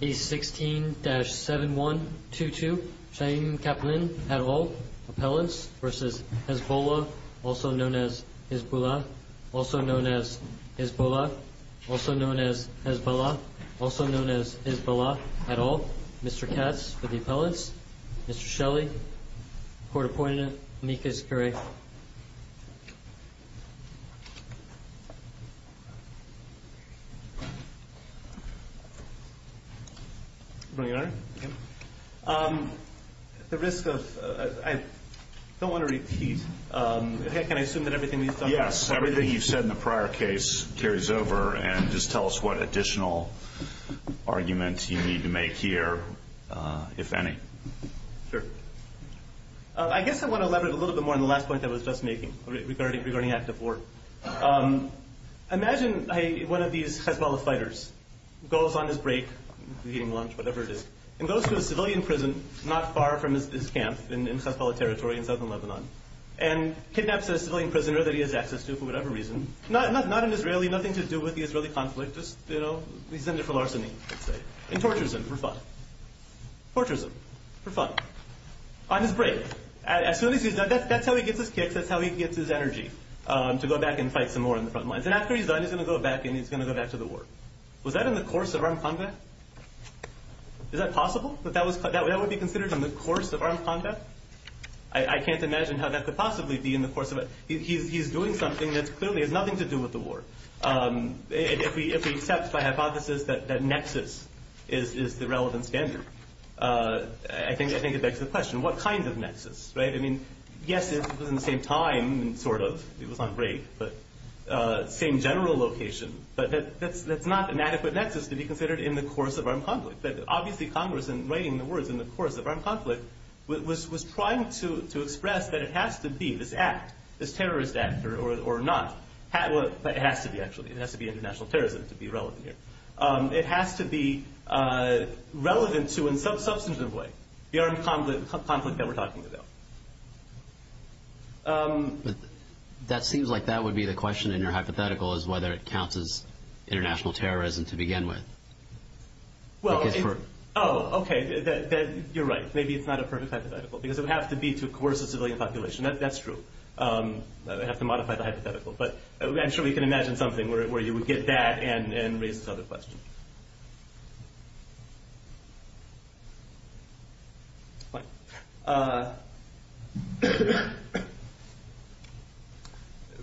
Case 16-7122. Chaim Kaplan et al. Appellants v. Hezbollah, also known as Hezbollah, also known as Hezbollah, also known as Hezbollah, also known as Hezbollah et al. Mr. Katz for the appellants. Mr. Shelley, court appointed. Amicus curiae. Your Honor. The risk of... I don't want to repeat. Can I assume that everything you've said... Yes, everything you've said in the prior case carries over and just tell us what additional argument you need to make here, if any. Sure. I guess I want to elaborate a little bit more on the last point I was just making regarding active war. Imagine one of these Hezbollah fighters goes on his break, eating lunch, whatever it is, and goes to a civilian prison not far from his camp in Hezbollah territory in southern Lebanon and kidnaps a civilian prisoner that he has access to for whatever reason. Not an Israeli, nothing to do with the Israeli conflict, just, you know, he's in there for larceny, I'd say. And tortures him for fun. Tortures him. For fun. On his break. As soon as he's done, that's how he gets his kicks, that's how he gets his energy, to go back and fight some more on the front lines. And after he's done, he's going to go back and he's going to go back to the war. Was that in the course of armed combat? Is that possible? That that would be considered in the course of armed combat? I can't imagine how that could possibly be in the course of it. He's doing something that clearly has nothing to do with the war. If we accept by hypothesis that nexus is the relevant standard, I think it begs the question, what kind of nexus? I mean, yes, it was in the same time, sort of. It was on break. Same general location. But that's not an adequate nexus to be considered in the course of armed conflict. But obviously, Congress, in writing the words in the course of armed conflict, was trying to express that it has to be this act, this terrorist act, or not. But it has to be, actually. It has to be international terrorism to be relevant here. It has to be relevant to, in some substantive way, the armed conflict that we're talking about. But that seems like that would be the question in your hypothetical, is whether it counts as international terrorism to begin with. Oh, OK. You're right. Maybe it's not a perfect hypothetical, because it would have to be to coerce a civilian population. That's true. I have to modify the hypothetical. But I'm sure we can imagine something where you would get that and raise this other question.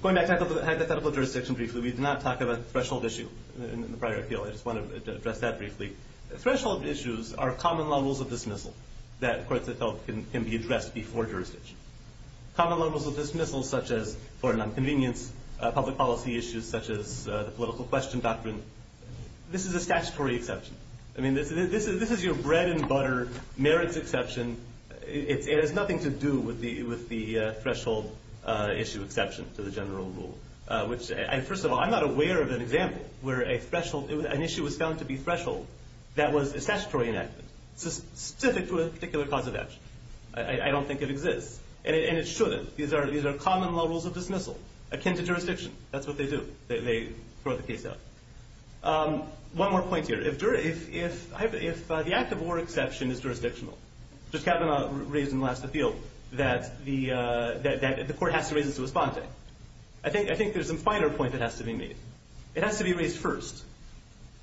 Going back to hypothetical jurisdiction briefly, we did not talk about the threshold issue in the prior appeal. I just wanted to address that briefly. Threshold issues are common levels of dismissal that courts of health can be addressed before jurisdiction. Common levels of dismissal, such as for an inconvenience, public policy issues, such as the political question doctrine, this is a statutory exception. This is your bread and butter, merits exception. It has nothing to do with the threshold issue exception to the general rule. First of all, I'm not aware of an example where an issue was found to be threshold that was a statutory enactment, specific to a particular cause of action. I don't think it exists. And it shouldn't. These are common levels of dismissal akin to jurisdiction. That's what they do. They throw the case out. One more point here. If the act of war exception is jurisdictional, Judge Kavanaugh raised in the last appeal that the court has to raise it to a sponte. I think there's some finer point that has to be made. It has to be raised first.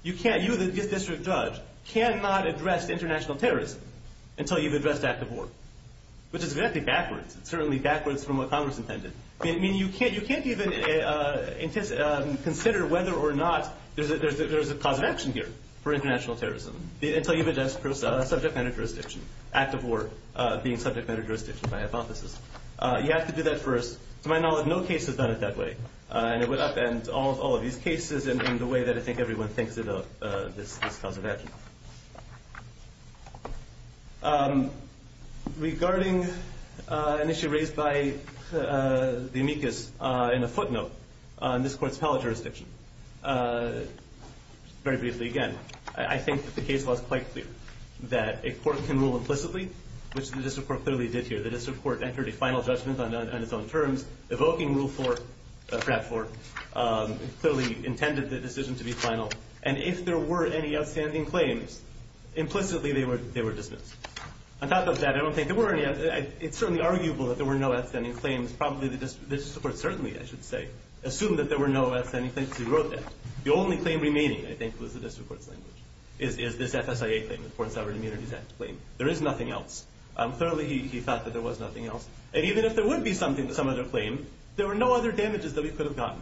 You, the district judge, cannot address international terrorism until you've addressed act of war, which is exactly backwards. It's certainly backwards from what Congress intended. You can't even consider whether or not there's a cause of action here for international terrorism until you've addressed subject matter jurisdiction, act of war being subject matter jurisdiction by hypothesis. You have to do that first. To my knowledge, no case has done it that way. And it would upend all of these cases in the way that I think everyone thinks of this cause of action. Regarding an issue raised by the amicus in a footnote on this court's pellet jurisdiction, very briefly again, I think that the case was quite clear that a court can rule implicitly, which the district court clearly did here. The district court entered a final judgment on its own terms, evoking rule four, frat four, clearly intended the decision to be final. And if there were any outstanding claims, implicitly they were dismissed. On top of that, I don't think there were any. It's certainly arguable that there were no outstanding claims. Probably the district court certainly, I should say, assumed that there were no outstanding claims. He wrote that. The only claim remaining, I think, was the district court's language, is this FSIA claim, the Foreign Sovereign Immunities Act claim. There is nothing else. Clearly, he thought that there was nothing else. And even if there would be some other claim, there were no other damages that we could have gotten.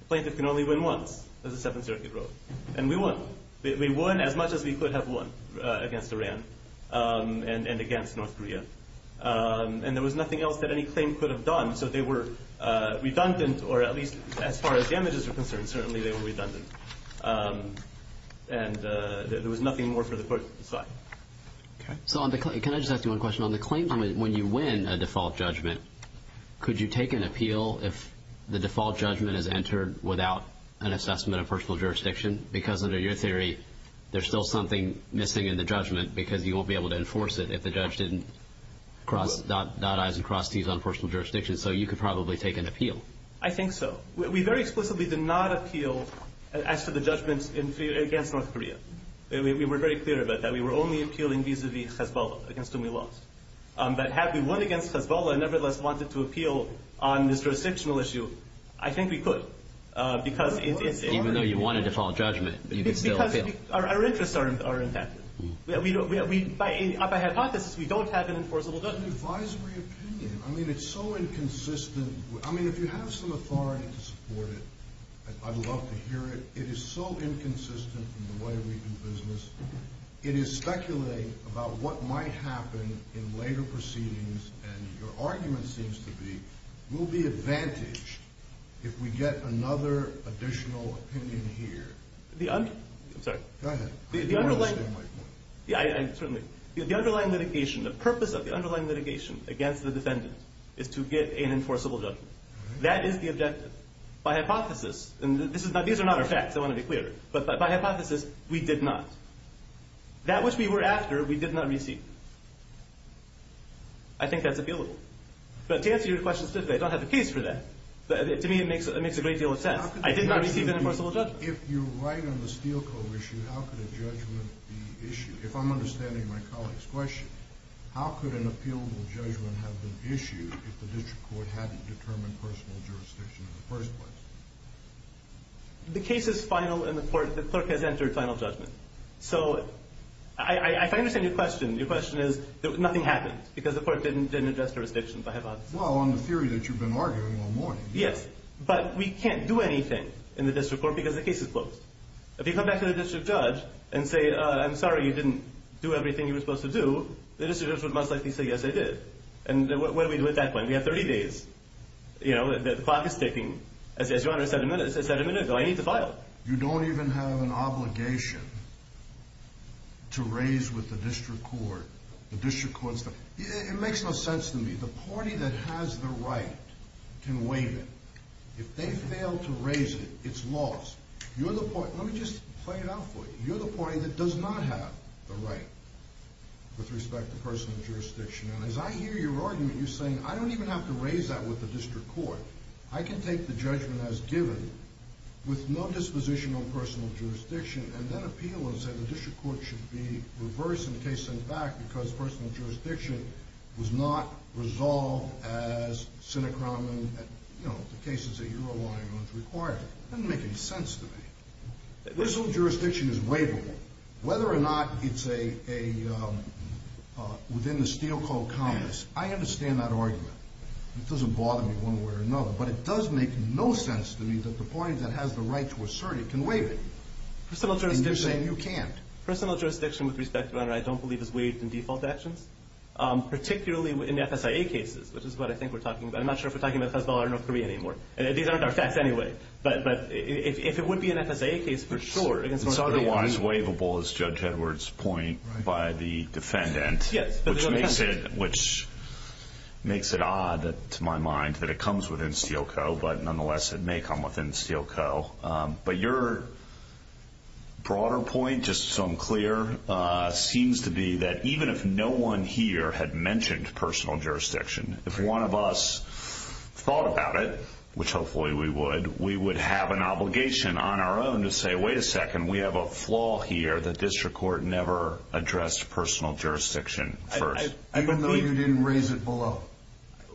A plaintiff can only win once, as the Seventh Circuit wrote. And we won. We won as much as we could have won against Iran and against North Korea. And there was nothing else that any claim could have done. So they were redundant, or at least as far as damages were concerned, certainly they were redundant. And there was nothing more for the court to decide. So can I just ask you one question? On the claims, when you win a default judgment, could you take an appeal if the default judgment is entered without an assessment of personal jurisdiction? Because under your theory, there's still something missing in the judgment because you won't be able to enforce it if the judge didn't dot I's and cross T's on personal jurisdiction. So you could probably take an appeal. I think so. We very explicitly did not appeal as to the judgments against North Korea. We were very clear about that. We were only appealing vis-a-vis Hezbollah against whom we lost. But had we won against Hezbollah and nevertheless wanted to appeal on this jurisdictional issue, I think we could. Even though you won a default judgment, you could still appeal. It's because our interests are intact. By hypothesis, we don't have an enforceable judgment. Advisory opinion. I mean, it's so inconsistent. I mean, if you have some authority to support it, I'd love to hear it. It is so inconsistent in the way we do business. It is speculating about what might happen in later proceedings. And your argument seems to be we'll be advantaged if we get another additional opinion here. I'm sorry. Go ahead. I don't understand my point. Certainly. The underlying litigation, the purpose of the underlying litigation against the defendant is to get an enforceable judgment. That is the objective. By hypothesis, and these are not our facts. I want to be clear. But by hypothesis, we did not. That which we were after, we did not receive. I think that's appealable. But to answer your question specifically, I don't have a case for that. But to me, it makes a great deal of sense. I did not receive an enforceable judgment. If you're right on the Steele Code issue, how could a judgment be issued? If I'm understanding my colleague's question, how could an appealable judgment have been issued if the district court hadn't determined personal jurisdiction in the first place? The case is final in the court. The clerk has entered final judgment. So if I understand your question, your question is nothing happened because the court didn't address jurisdiction by hypothesis. Well, on the theory that you've been arguing all morning. Yes. But we can't do anything in the district court because the case is closed. If you come back to the district judge and say, I'm sorry, you didn't do everything you were supposed to do, the district judge would most likely say, yes, I did. And what do we do at that point? We have 30 days. You know, the clock is ticking. As Your Honor said a minute ago, I need the file. You don't even have an obligation to raise with the district court. The district court's the – it makes no sense to me. The party that has the right can waive it. If they fail to raise it, it's lost. You're the party – let me just play it out for you. You're the party that does not have the right with respect to personal jurisdiction. And as I hear your argument, you're saying, I don't even have to raise that with the district court. I can take the judgment as given with no disposition on personal jurisdiction and then appeal and say the district court should be reversed and the case sent back because personal jurisdiction was not resolved as Senate crime and, you know, the cases that you're relying on is required. It doesn't make any sense to me. This whole jurisdiction is waivable. Whether or not it's a – within the steel-coiled compass, I understand that argument. It doesn't bother me one way or another. But it does make no sense to me that the party that has the right to assert it can waive it. And you're saying you can't. Personal jurisdiction with respect, Your Honor, I don't believe is waived in default actions, particularly in the FSIA cases, which is what I think we're talking about. I'm not sure if we're talking about the Federal Arbiter of North Korea anymore. These aren't our facts anyway. But if it would be an FSIA case, for sure. It's otherwise waivable, as Judge Edwards points, by the defendant, which makes it odd to my mind that it comes within steel-co, but nonetheless it may come within steel-co. But your broader point, just so I'm clear, seems to be that even if no one here had mentioned personal jurisdiction, if one of us thought about it, which hopefully we would, we would have an obligation on our own to say, wait a second, we have a flaw here. The district court never addressed personal jurisdiction first. Even though you didn't raise it below.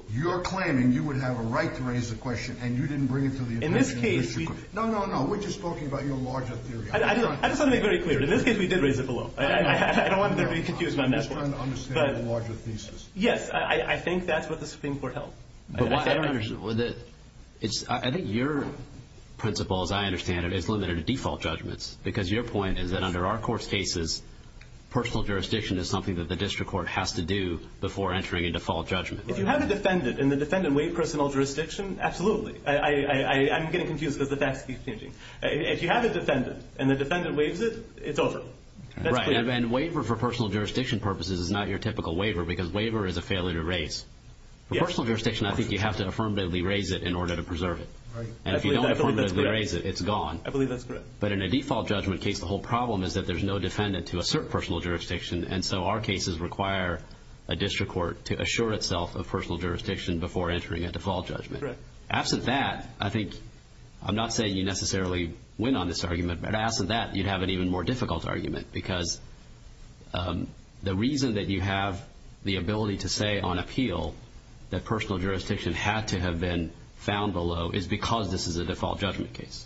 You're claiming you would have a right to raise the question, and you didn't bring it to the attorney in this case. No, no, no, we're just talking about your larger theory. I just want to make very clear, in this case we did raise it below. I don't want to be confused by that. I'm just trying to understand the larger thesis. Yes, I think that's what the Supreme Court held. I think your principle, as I understand it, is limited to default judgments, because your point is that under our court's cases, personal jurisdiction is something that the district court has to do before entering a default judgment. If you have a defendant, and the defendant waived personal jurisdiction, absolutely. I'm getting confused because the facts keep changing. If you have a defendant, and the defendant waives it, it's over. Right, and waiver for personal jurisdiction purposes is not your typical waiver because waiver is a failure to raise. Personal jurisdiction, I think you have to affirmatively raise it in order to preserve it. And if you don't affirmatively raise it, it's gone. I believe that's correct. But in a default judgment case, the whole problem is that there's no defendant to assert personal jurisdiction, and so our cases require a district court to assure itself of personal jurisdiction before entering a default judgment. Correct. Absent that, I think, I'm not saying you necessarily win on this argument, but absent that, you'd have an even more difficult argument, because the reason that you have the ability to say on appeal that personal jurisdiction had to have been found below is because this is a default judgment case,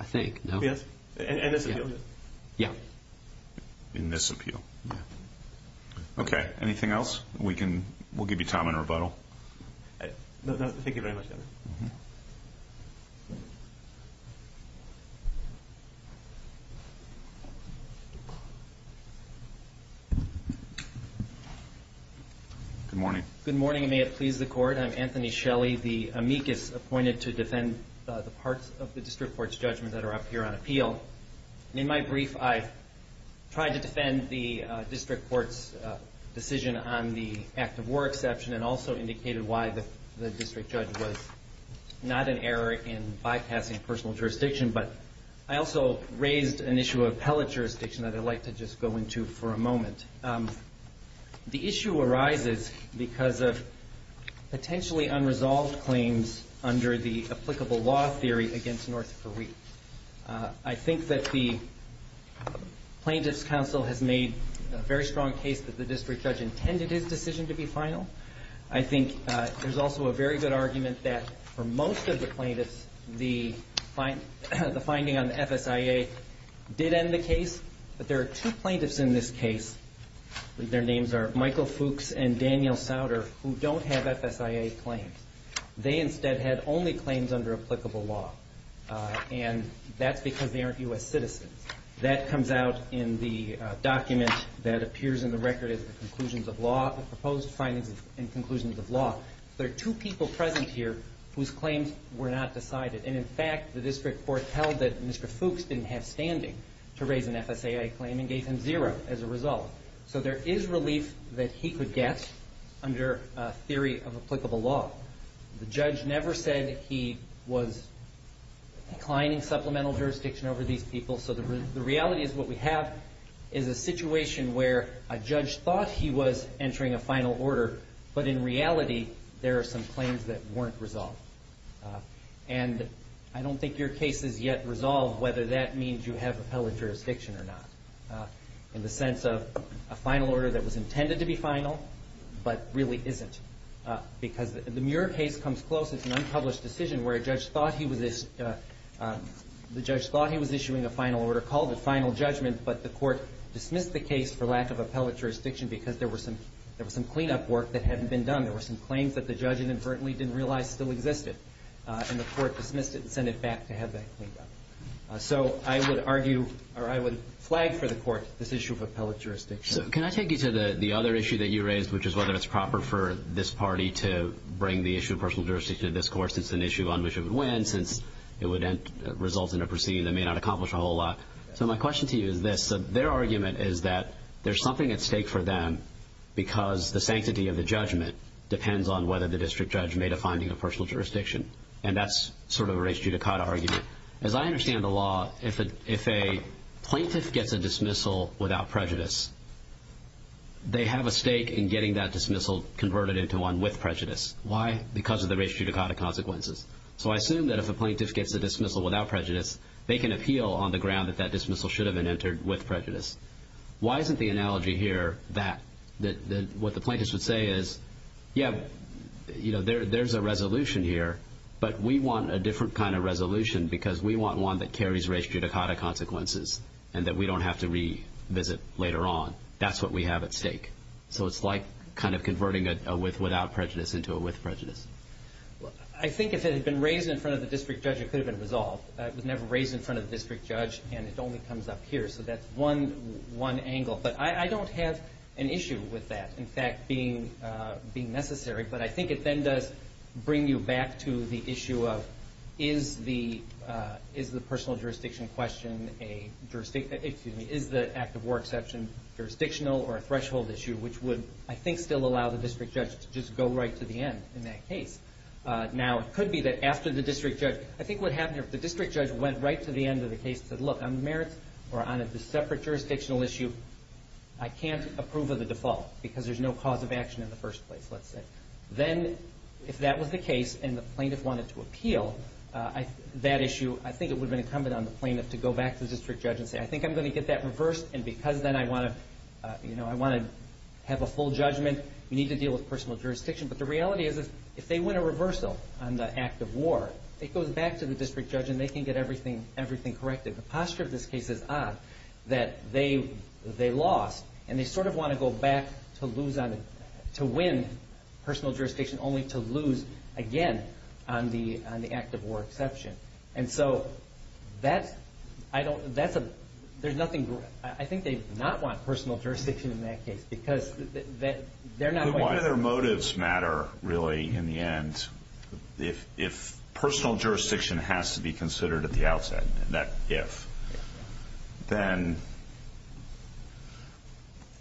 I think. Yes, in this appeal? Yes. In this appeal. Okay, anything else? We'll give you time on rebuttal. Thank you very much. Good morning. Good morning, and may it please the Court. I'm Anthony Shelley, the amicus appointed to defend the parts of the district court's judgment that are up here on appeal. In my brief, I've tried to defend the district court's decision on the act of war exception and also indicated why the district judge was not an error in bypassing personal jurisdiction, but I also raised an issue of appellate jurisdiction that I'd like to just go into for a moment. The issue arises because of potentially unresolved claims under the applicable law theory against North Korea. I think that the plaintiff's counsel has made a very strong case that the district judge intended his decision to be final. I think there's also a very good argument that for most of the plaintiffs, the finding on the FSIA did end the case, but there are two plaintiffs in this case. Their names are Michael Fuchs and Daniel Sauter, who don't have FSIA claims. They instead had only claims under applicable law, and that's because they aren't U.S. citizens. That comes out in the document that appears in the record as the conclusions of law, the proposed findings and conclusions of law. There are two people present here whose claims were not decided, and, in fact, the district court held that Mr. Fuchs didn't have standing to raise an FSIA claim and gave him zero as a result. So there is relief that he could get under theory of applicable law. The judge never said he was declining supplemental jurisdiction over these people so the reality is what we have is a situation where a judge thought he was entering a final order, but in reality there are some claims that weren't resolved. And I don't think your case is yet resolved whether that means you have appellate jurisdiction or not in the sense of a final order that was intended to be final but really isn't because the Muir case comes close. It's an unpublished decision where a judge thought he was issuing a final order called the final judgment, but the court dismissed the case for lack of appellate jurisdiction because there was some cleanup work that hadn't been done. There were some claims that the judge inadvertently didn't realize still existed, and the court dismissed it and sent it back to have that cleaned up. So I would argue or I would flag for the court this issue of appellate jurisdiction. So can I take you to the other issue that you raised, which is whether it's proper for this party to bring the issue of personal jurisdiction to this court since it's an issue on which it would win, since it would result in a proceeding that may not accomplish a whole lot. So my question to you is this. Their argument is that there's something at stake for them because the sanctity of the judgment depends on whether the district judge made a finding of personal jurisdiction, and that's sort of a race judicata argument. As I understand the law, if a plaintiff gets a dismissal without prejudice, they have a stake in getting that dismissal converted into one with prejudice. Why? Because of the race judicata consequences. So I assume that if a plaintiff gets a dismissal without prejudice, they can appeal on the ground that that dismissal should have been entered with prejudice. Why isn't the analogy here that what the plaintiffs would say is, Yeah, you know, there's a resolution here, but we want a different kind of resolution because we want one that carries race judicata consequences and that we don't have to revisit later on. That's what we have at stake. So it's like kind of converting a with without prejudice into a with prejudice. I think if it had been raised in front of the district judge, it could have been resolved. It was never raised in front of the district judge, and it only comes up here. So that's one angle. But I don't have an issue with that. In fact, being necessary, but I think it then does bring you back to the issue of is the personal jurisdiction question a jurisdiction, excuse me, is the act of war exception jurisdictional or a threshold issue, which would, I think, still allow the district judge to just go right to the end in that case. Now, it could be that after the district judge, I think what happened here, if the district judge went right to the end of the case and said, Look, on the merits or on a separate jurisdictional issue, I can't approve of the default because there's no cause of action in the first place, let's say. Then if that was the case and the plaintiff wanted to appeal that issue, I think it would have been incumbent on the plaintiff to go back to the district judge and say, I think I'm going to get that reversed, and because then I want to have a full judgment, you need to deal with personal jurisdiction. But the reality is if they win a reversal on the act of war, it goes back to the district judge, and they can get everything corrected. The posture of this case is odd, that they lost, and they sort of want to go back to win personal jurisdiction, only to lose again on the act of war exception. I think they do not want personal jurisdiction in that case because they're not quite sure. Why do their motives matter, really, in the end, If personal jurisdiction has to be considered at the outset, and that if, then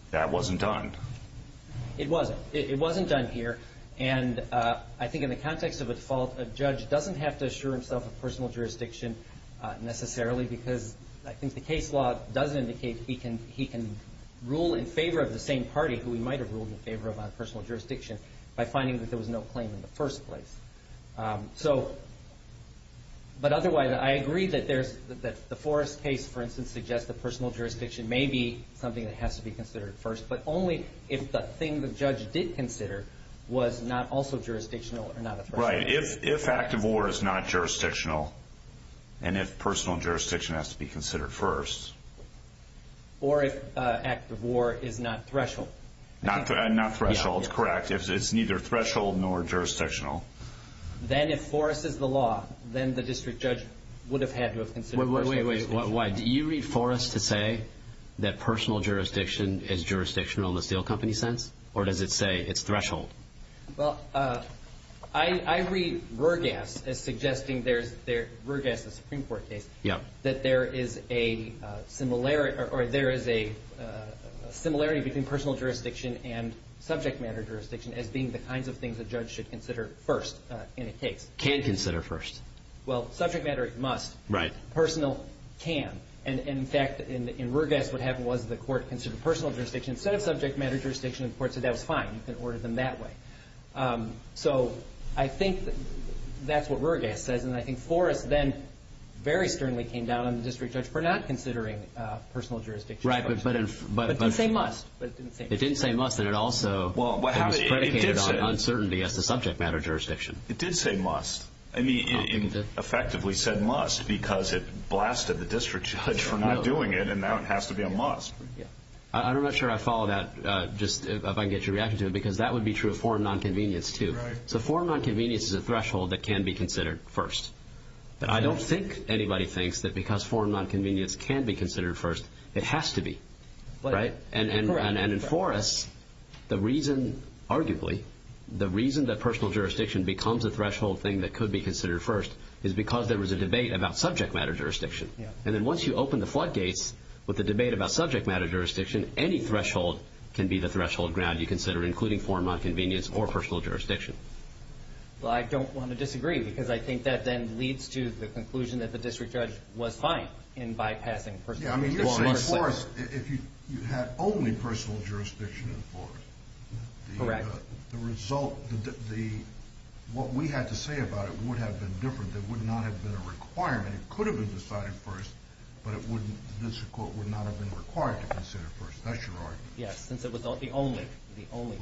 that wasn't done. It wasn't. It wasn't done here, and I think in the context of a default, a judge doesn't have to assure himself of personal jurisdiction necessarily because I think the case law does indicate he can rule in favor of the same party, who he might have ruled in favor of on personal jurisdiction, by finding that there was no claim in the first place. But otherwise, I agree that the Forrest case, for instance, suggests that personal jurisdiction may be something that has to be considered first, but only if the thing the judge did consider was not also jurisdictional or not at first. Right. If act of war is not jurisdictional, and if personal jurisdiction has to be considered first. Or if act of war is not threshold. Not threshold. It's correct if it's neither threshold nor jurisdictional. Then if Forrest is the law, then the district judge would have had to have considered personal jurisdiction. Wait, wait, wait. Why? Do you read Forrest to say that personal jurisdiction is jurisdictional in the steel company sense, or does it say it's threshold? Well, I read Roergass as suggesting there's Roergass, the Supreme Court case, that there is a similarity between personal jurisdiction and subject matter jurisdiction as being the kinds of things a judge should consider first in a case. Can consider first. Well, subject matter must. Right. Personal can. And in fact, in Roergass, what happened was the court considered personal jurisdiction. Instead of subject matter jurisdiction, the court said that was fine. You can order them that way. So I think that's what Roergass says. And I think Forrest then very sternly came down on the district judge for not considering personal jurisdiction. Right. But didn't say must. It didn't say must, and it also was predicated on uncertainty as to subject matter jurisdiction. It did say must. I mean, it effectively said must because it blasted the district judge for not doing it, and now it has to be a must. I'm not sure I follow that, just if I can get your reaction to it, because that would be true of foreign nonconvenience, too. So foreign nonconvenience is a threshold that can be considered first. But I don't think anybody thinks that because foreign nonconvenience can be considered first, it has to be. And in Forrest, the reason, arguably, the reason that personal jurisdiction becomes a threshold thing that could be considered first is because there was a debate about subject matter jurisdiction. And then once you open the floodgates with the debate about subject matter jurisdiction, any threshold can be the threshold ground you consider, including foreign nonconvenience or personal jurisdiction. Well, I don't want to disagree because I think that then leads to the conclusion that the district judge was fine in bypassing personal jurisdiction. Yeah, I mean, you're saying Forrest, if you had only personal jurisdiction in Forrest, the result, what we had to say about it would have been different. There would not have been a requirement. And it could have been decided first, but it wouldn't. This court would not have been required to consider first. That's your argument. Yes, since it was the only the only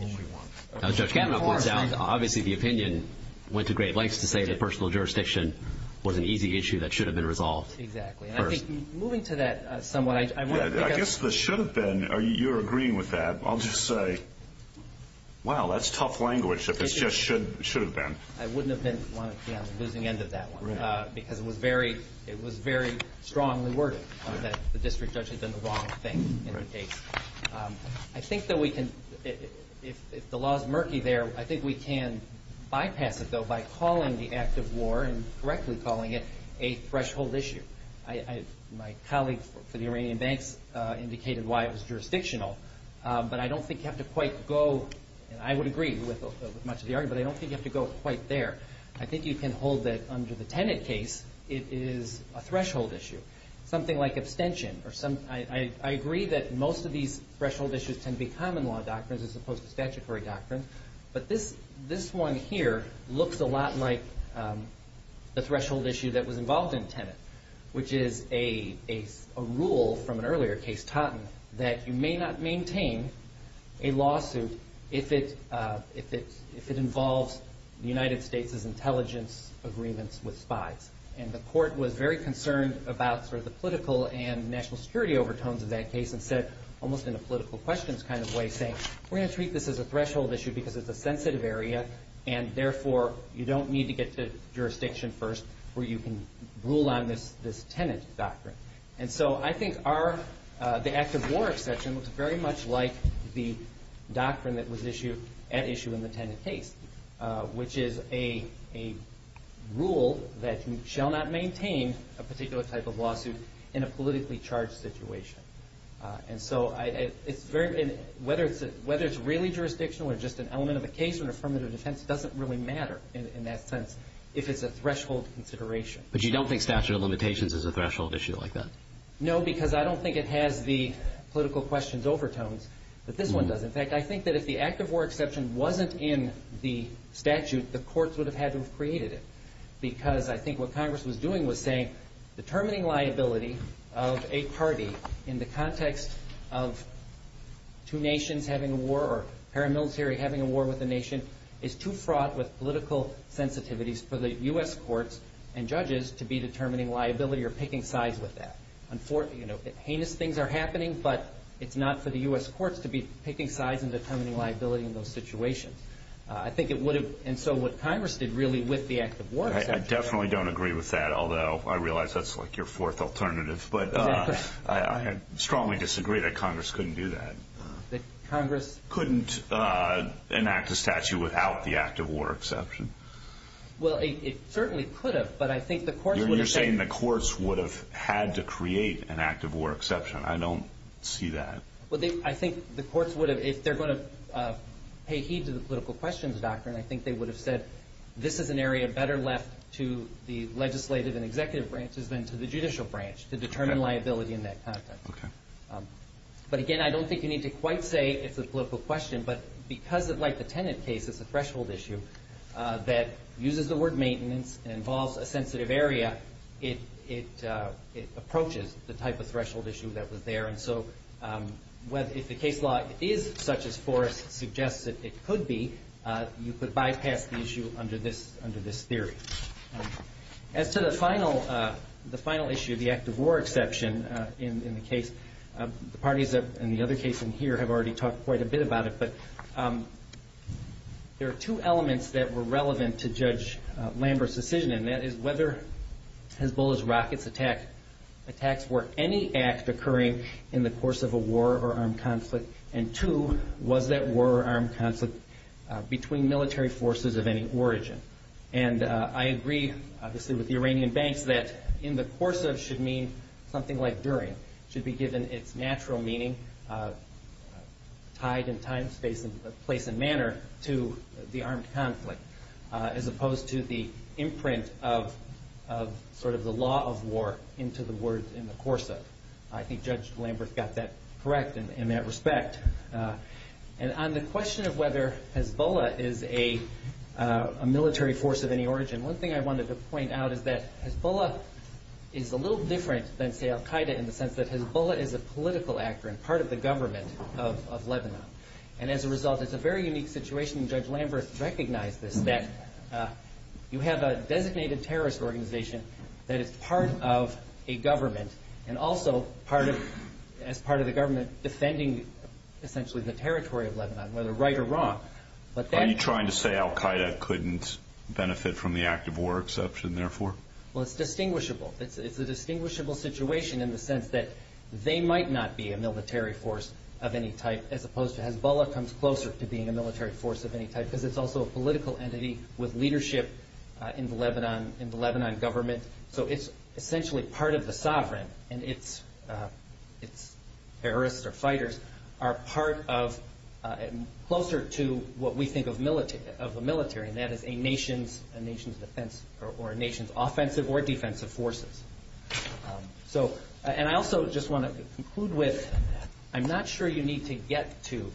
one. Judge Kavanaugh points out, obviously, the opinion went to great lengths to say that personal jurisdiction was an easy issue that should have been resolved. Exactly. And I think moving to that somewhat, I guess this should have been or you're agreeing with that. I'll just say, wow, that's tough language. If it's just should should have been. I wouldn't have been losing end of that because it was very it was very strongly worded that the district judge had done the wrong thing. I think that we can if the law is murky there. I think we can bypass it, though, by calling the act of war and correctly calling it a threshold issue. I my colleague for the Iranian banks indicated why it was jurisdictional, but I don't think you have to quite go. And I would agree with much of the argument. I don't think you have to go quite there. I think you can hold that under the tenant case. It is a threshold issue, something like abstention or some. I agree that most of these threshold issues can be common law doctrines as opposed to statutory doctrine. But this this one here looks a lot like the threshold issue that was involved in tenant, which is a rule from an earlier case, taught that you may not maintain a lawsuit if it if it if it involves the United States's intelligence agreements with spies. And the court was very concerned about sort of the political and national security overtones of that case and said, almost in a political questions kind of way, say, we're going to treat this as a threshold issue because it's a sensitive area. And therefore, you don't need to get to jurisdiction first where you can rule on this, this tenant doctrine. And so I think our the act of war exception looks very much like the doctrine that was issued at issue in the tenant case, which is a a rule that you shall not maintain a particular type of lawsuit in a politically charged situation. And so it's very whether it's whether it's really jurisdictional or just an element of a case or affirmative defense doesn't really matter in that sense. If it's a threshold consideration. But you don't think statute of limitations is a threshold issue like that? No, because I don't think it has the political questions overtones that this one does. In fact, I think that if the act of war exception wasn't in the statute, the courts would have had to have created it, because I think what Congress was doing was saying determining liability of a party in the context of two nations having a war or paramilitary having a war with a nation is too fraught with political sensitivities for the U.S. courts and judges to be determining liability or picking sides with that. Unfortunately, you know, heinous things are happening, but it's not for the U.S. courts to be picking sides and determining liability in those situations. I think it would have. And so what Congress did really with the act of war, I definitely don't agree with that, although I realize that's like your fourth alternative. But I strongly disagree that Congress couldn't do that. That Congress couldn't enact a statute without the act of war exception. Well, it certainly could have. But I think the court would have seen the courts would have had to create an act of war exception. I don't see that. Well, I think the courts would have, if they're going to pay heed to the political questions doctrine, I think they would have said this is an area better left to the legislative and executive branches than to the judicial branch to determine liability in that context. But again, I don't think you need to quite say it's a political question, but because of like the tenant case, it's a threshold issue that uses the word maintenance and involves a sensitive area. It approaches the type of threshold issue that was there. And so if the case law is such as Forrest suggests that it could be, you could bypass the issue under this theory. As to the final issue, the act of war exception in the case, the parties in the other case in here have already talked quite a bit about it. But there are two elements that were relevant to Judge Lambert's decision, and that is whether Hezbollah's rockets attacks were any act occurring in the course of a war or armed conflict. And two, was that war or armed conflict between military forces of any origin? And I agree, obviously, with the Iranian banks that in the course of should mean something like during, should be given its natural meaning. Tied in time, space and place and manner to the armed conflict, as opposed to the imprint of sort of the law of war into the words in the course of. I think Judge Lambert got that correct in that respect. And on the question of whether Hezbollah is a military force of any origin. One thing I wanted to point out is that Hezbollah is a little different than, say, Al Qaeda in the sense that Hezbollah is a political actor and part of the government of Lebanon. And as a result, it's a very unique situation. Judge Lambert recognized this, that you have a designated terrorist organization that is part of a government and also part of as part of the government defending essentially the territory of Lebanon, whether right or wrong. Are you trying to say Al Qaeda couldn't benefit from the act of war exception, therefore? Well, it's distinguishable. It's a distinguishable situation in the sense that they might not be a military force of any type, as opposed to Hezbollah comes closer to being a military force of any type, because it's also a political entity with leadership in the Lebanon government. So it's essentially part of the sovereign, and its terrorists or fighters are closer to what we think of the military, and that is a nation's offensive or defensive forces. And I also just want to conclude with, I'm not sure you need to get to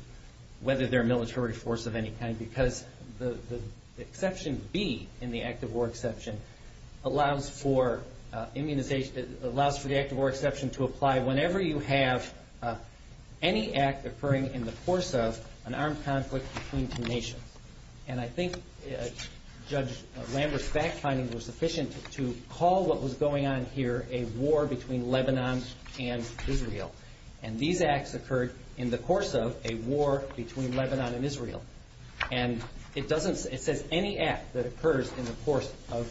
whether they're a military force of any kind, because the exception B in the act of war exception allows for the act of war exception to apply whenever you have any act occurring in the course of an armed conflict between two nations. And I think Judge Lambert's fact findings were sufficient to call what was going on here a war between Lebanon and Israel, and these acts occurred in the course of a war between Lebanon and Israel. And it says any act that occurs in the course of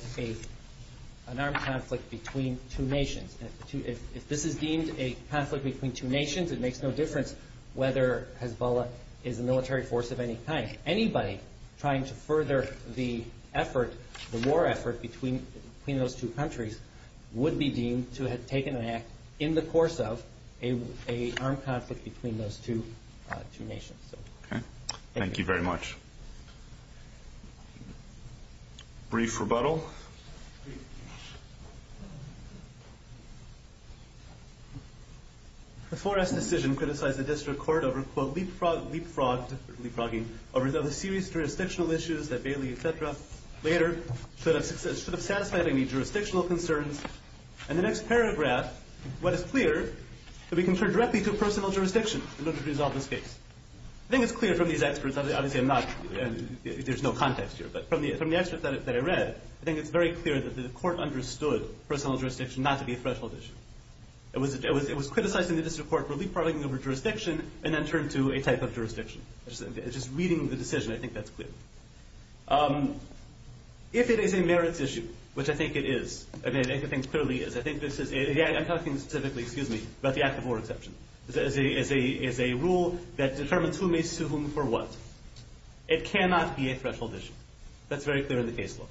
an armed conflict between two nations. If this is deemed a conflict between two nations, it makes no difference whether Hezbollah is a military force of any kind. Anybody trying to further the war effort between those two countries would be deemed to have taken an act in the course of an armed conflict between those two nations. Thank you very much. Brief rebuttal. Brief. The Forrest decision criticized the district court over, quote, leapfrogged, leapfrogging, over the serious jurisdictional issues that Bailey, et cetera, later should have satisfied any jurisdictional concerns. In the next paragraph, what is clear, that we can turn directly to personal jurisdiction in order to resolve this case. I think it's clear from these experts, obviously I'm not, there's no context here, but from the experts that I read, I think it's very clear that the court understood personal jurisdiction not to be a threshold issue. It was criticized in the district court for leapfrogging over jurisdiction and then turned to a type of jurisdiction. Just reading the decision, I think that's clear. If it is a merits issue, which I think it is, I mean, I think it clearly is, I think this is, I'm talking specifically, excuse me, about the act of war exception. This is a rule that determines whom may sue whom for what. It cannot be a threshold issue. That's very clear in the case law.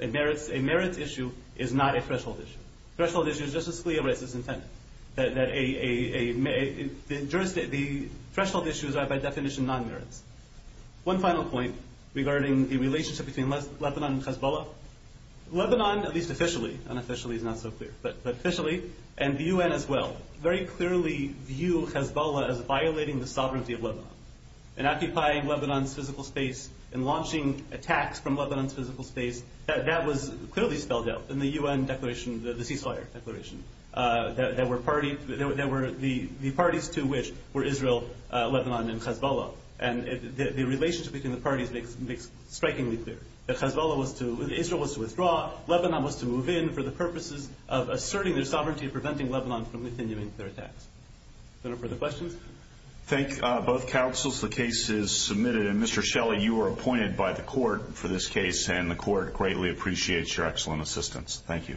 A merits issue is not a threshold issue. Threshold issue is just as clear as its intended. The threshold issues are by definition non-merits. One final point regarding the relationship between Lebanon and Hezbollah. Lebanon, at least officially, unofficially is not so clear, but officially, and the UN as well, very clearly view Hezbollah as violating the sovereignty of Lebanon. In occupying Lebanon's physical space, in launching attacks from Lebanon's physical space, that was clearly spelled out in the UN declaration, the ceasefire declaration. There were parties to which were Israel, Lebanon, and Hezbollah, and the relationship between the parties makes strikingly clear. That Hezbollah was to, Israel was to withdraw, Lebanon was to move in for the purposes of asserting their sovereignty and preventing Lebanon from continuing their attacks. Are there further questions? Thank both counsels. The case is submitted, and Mr. Shelley, you were appointed by the court for this case, and the court greatly appreciates your excellent assistance. Thank you.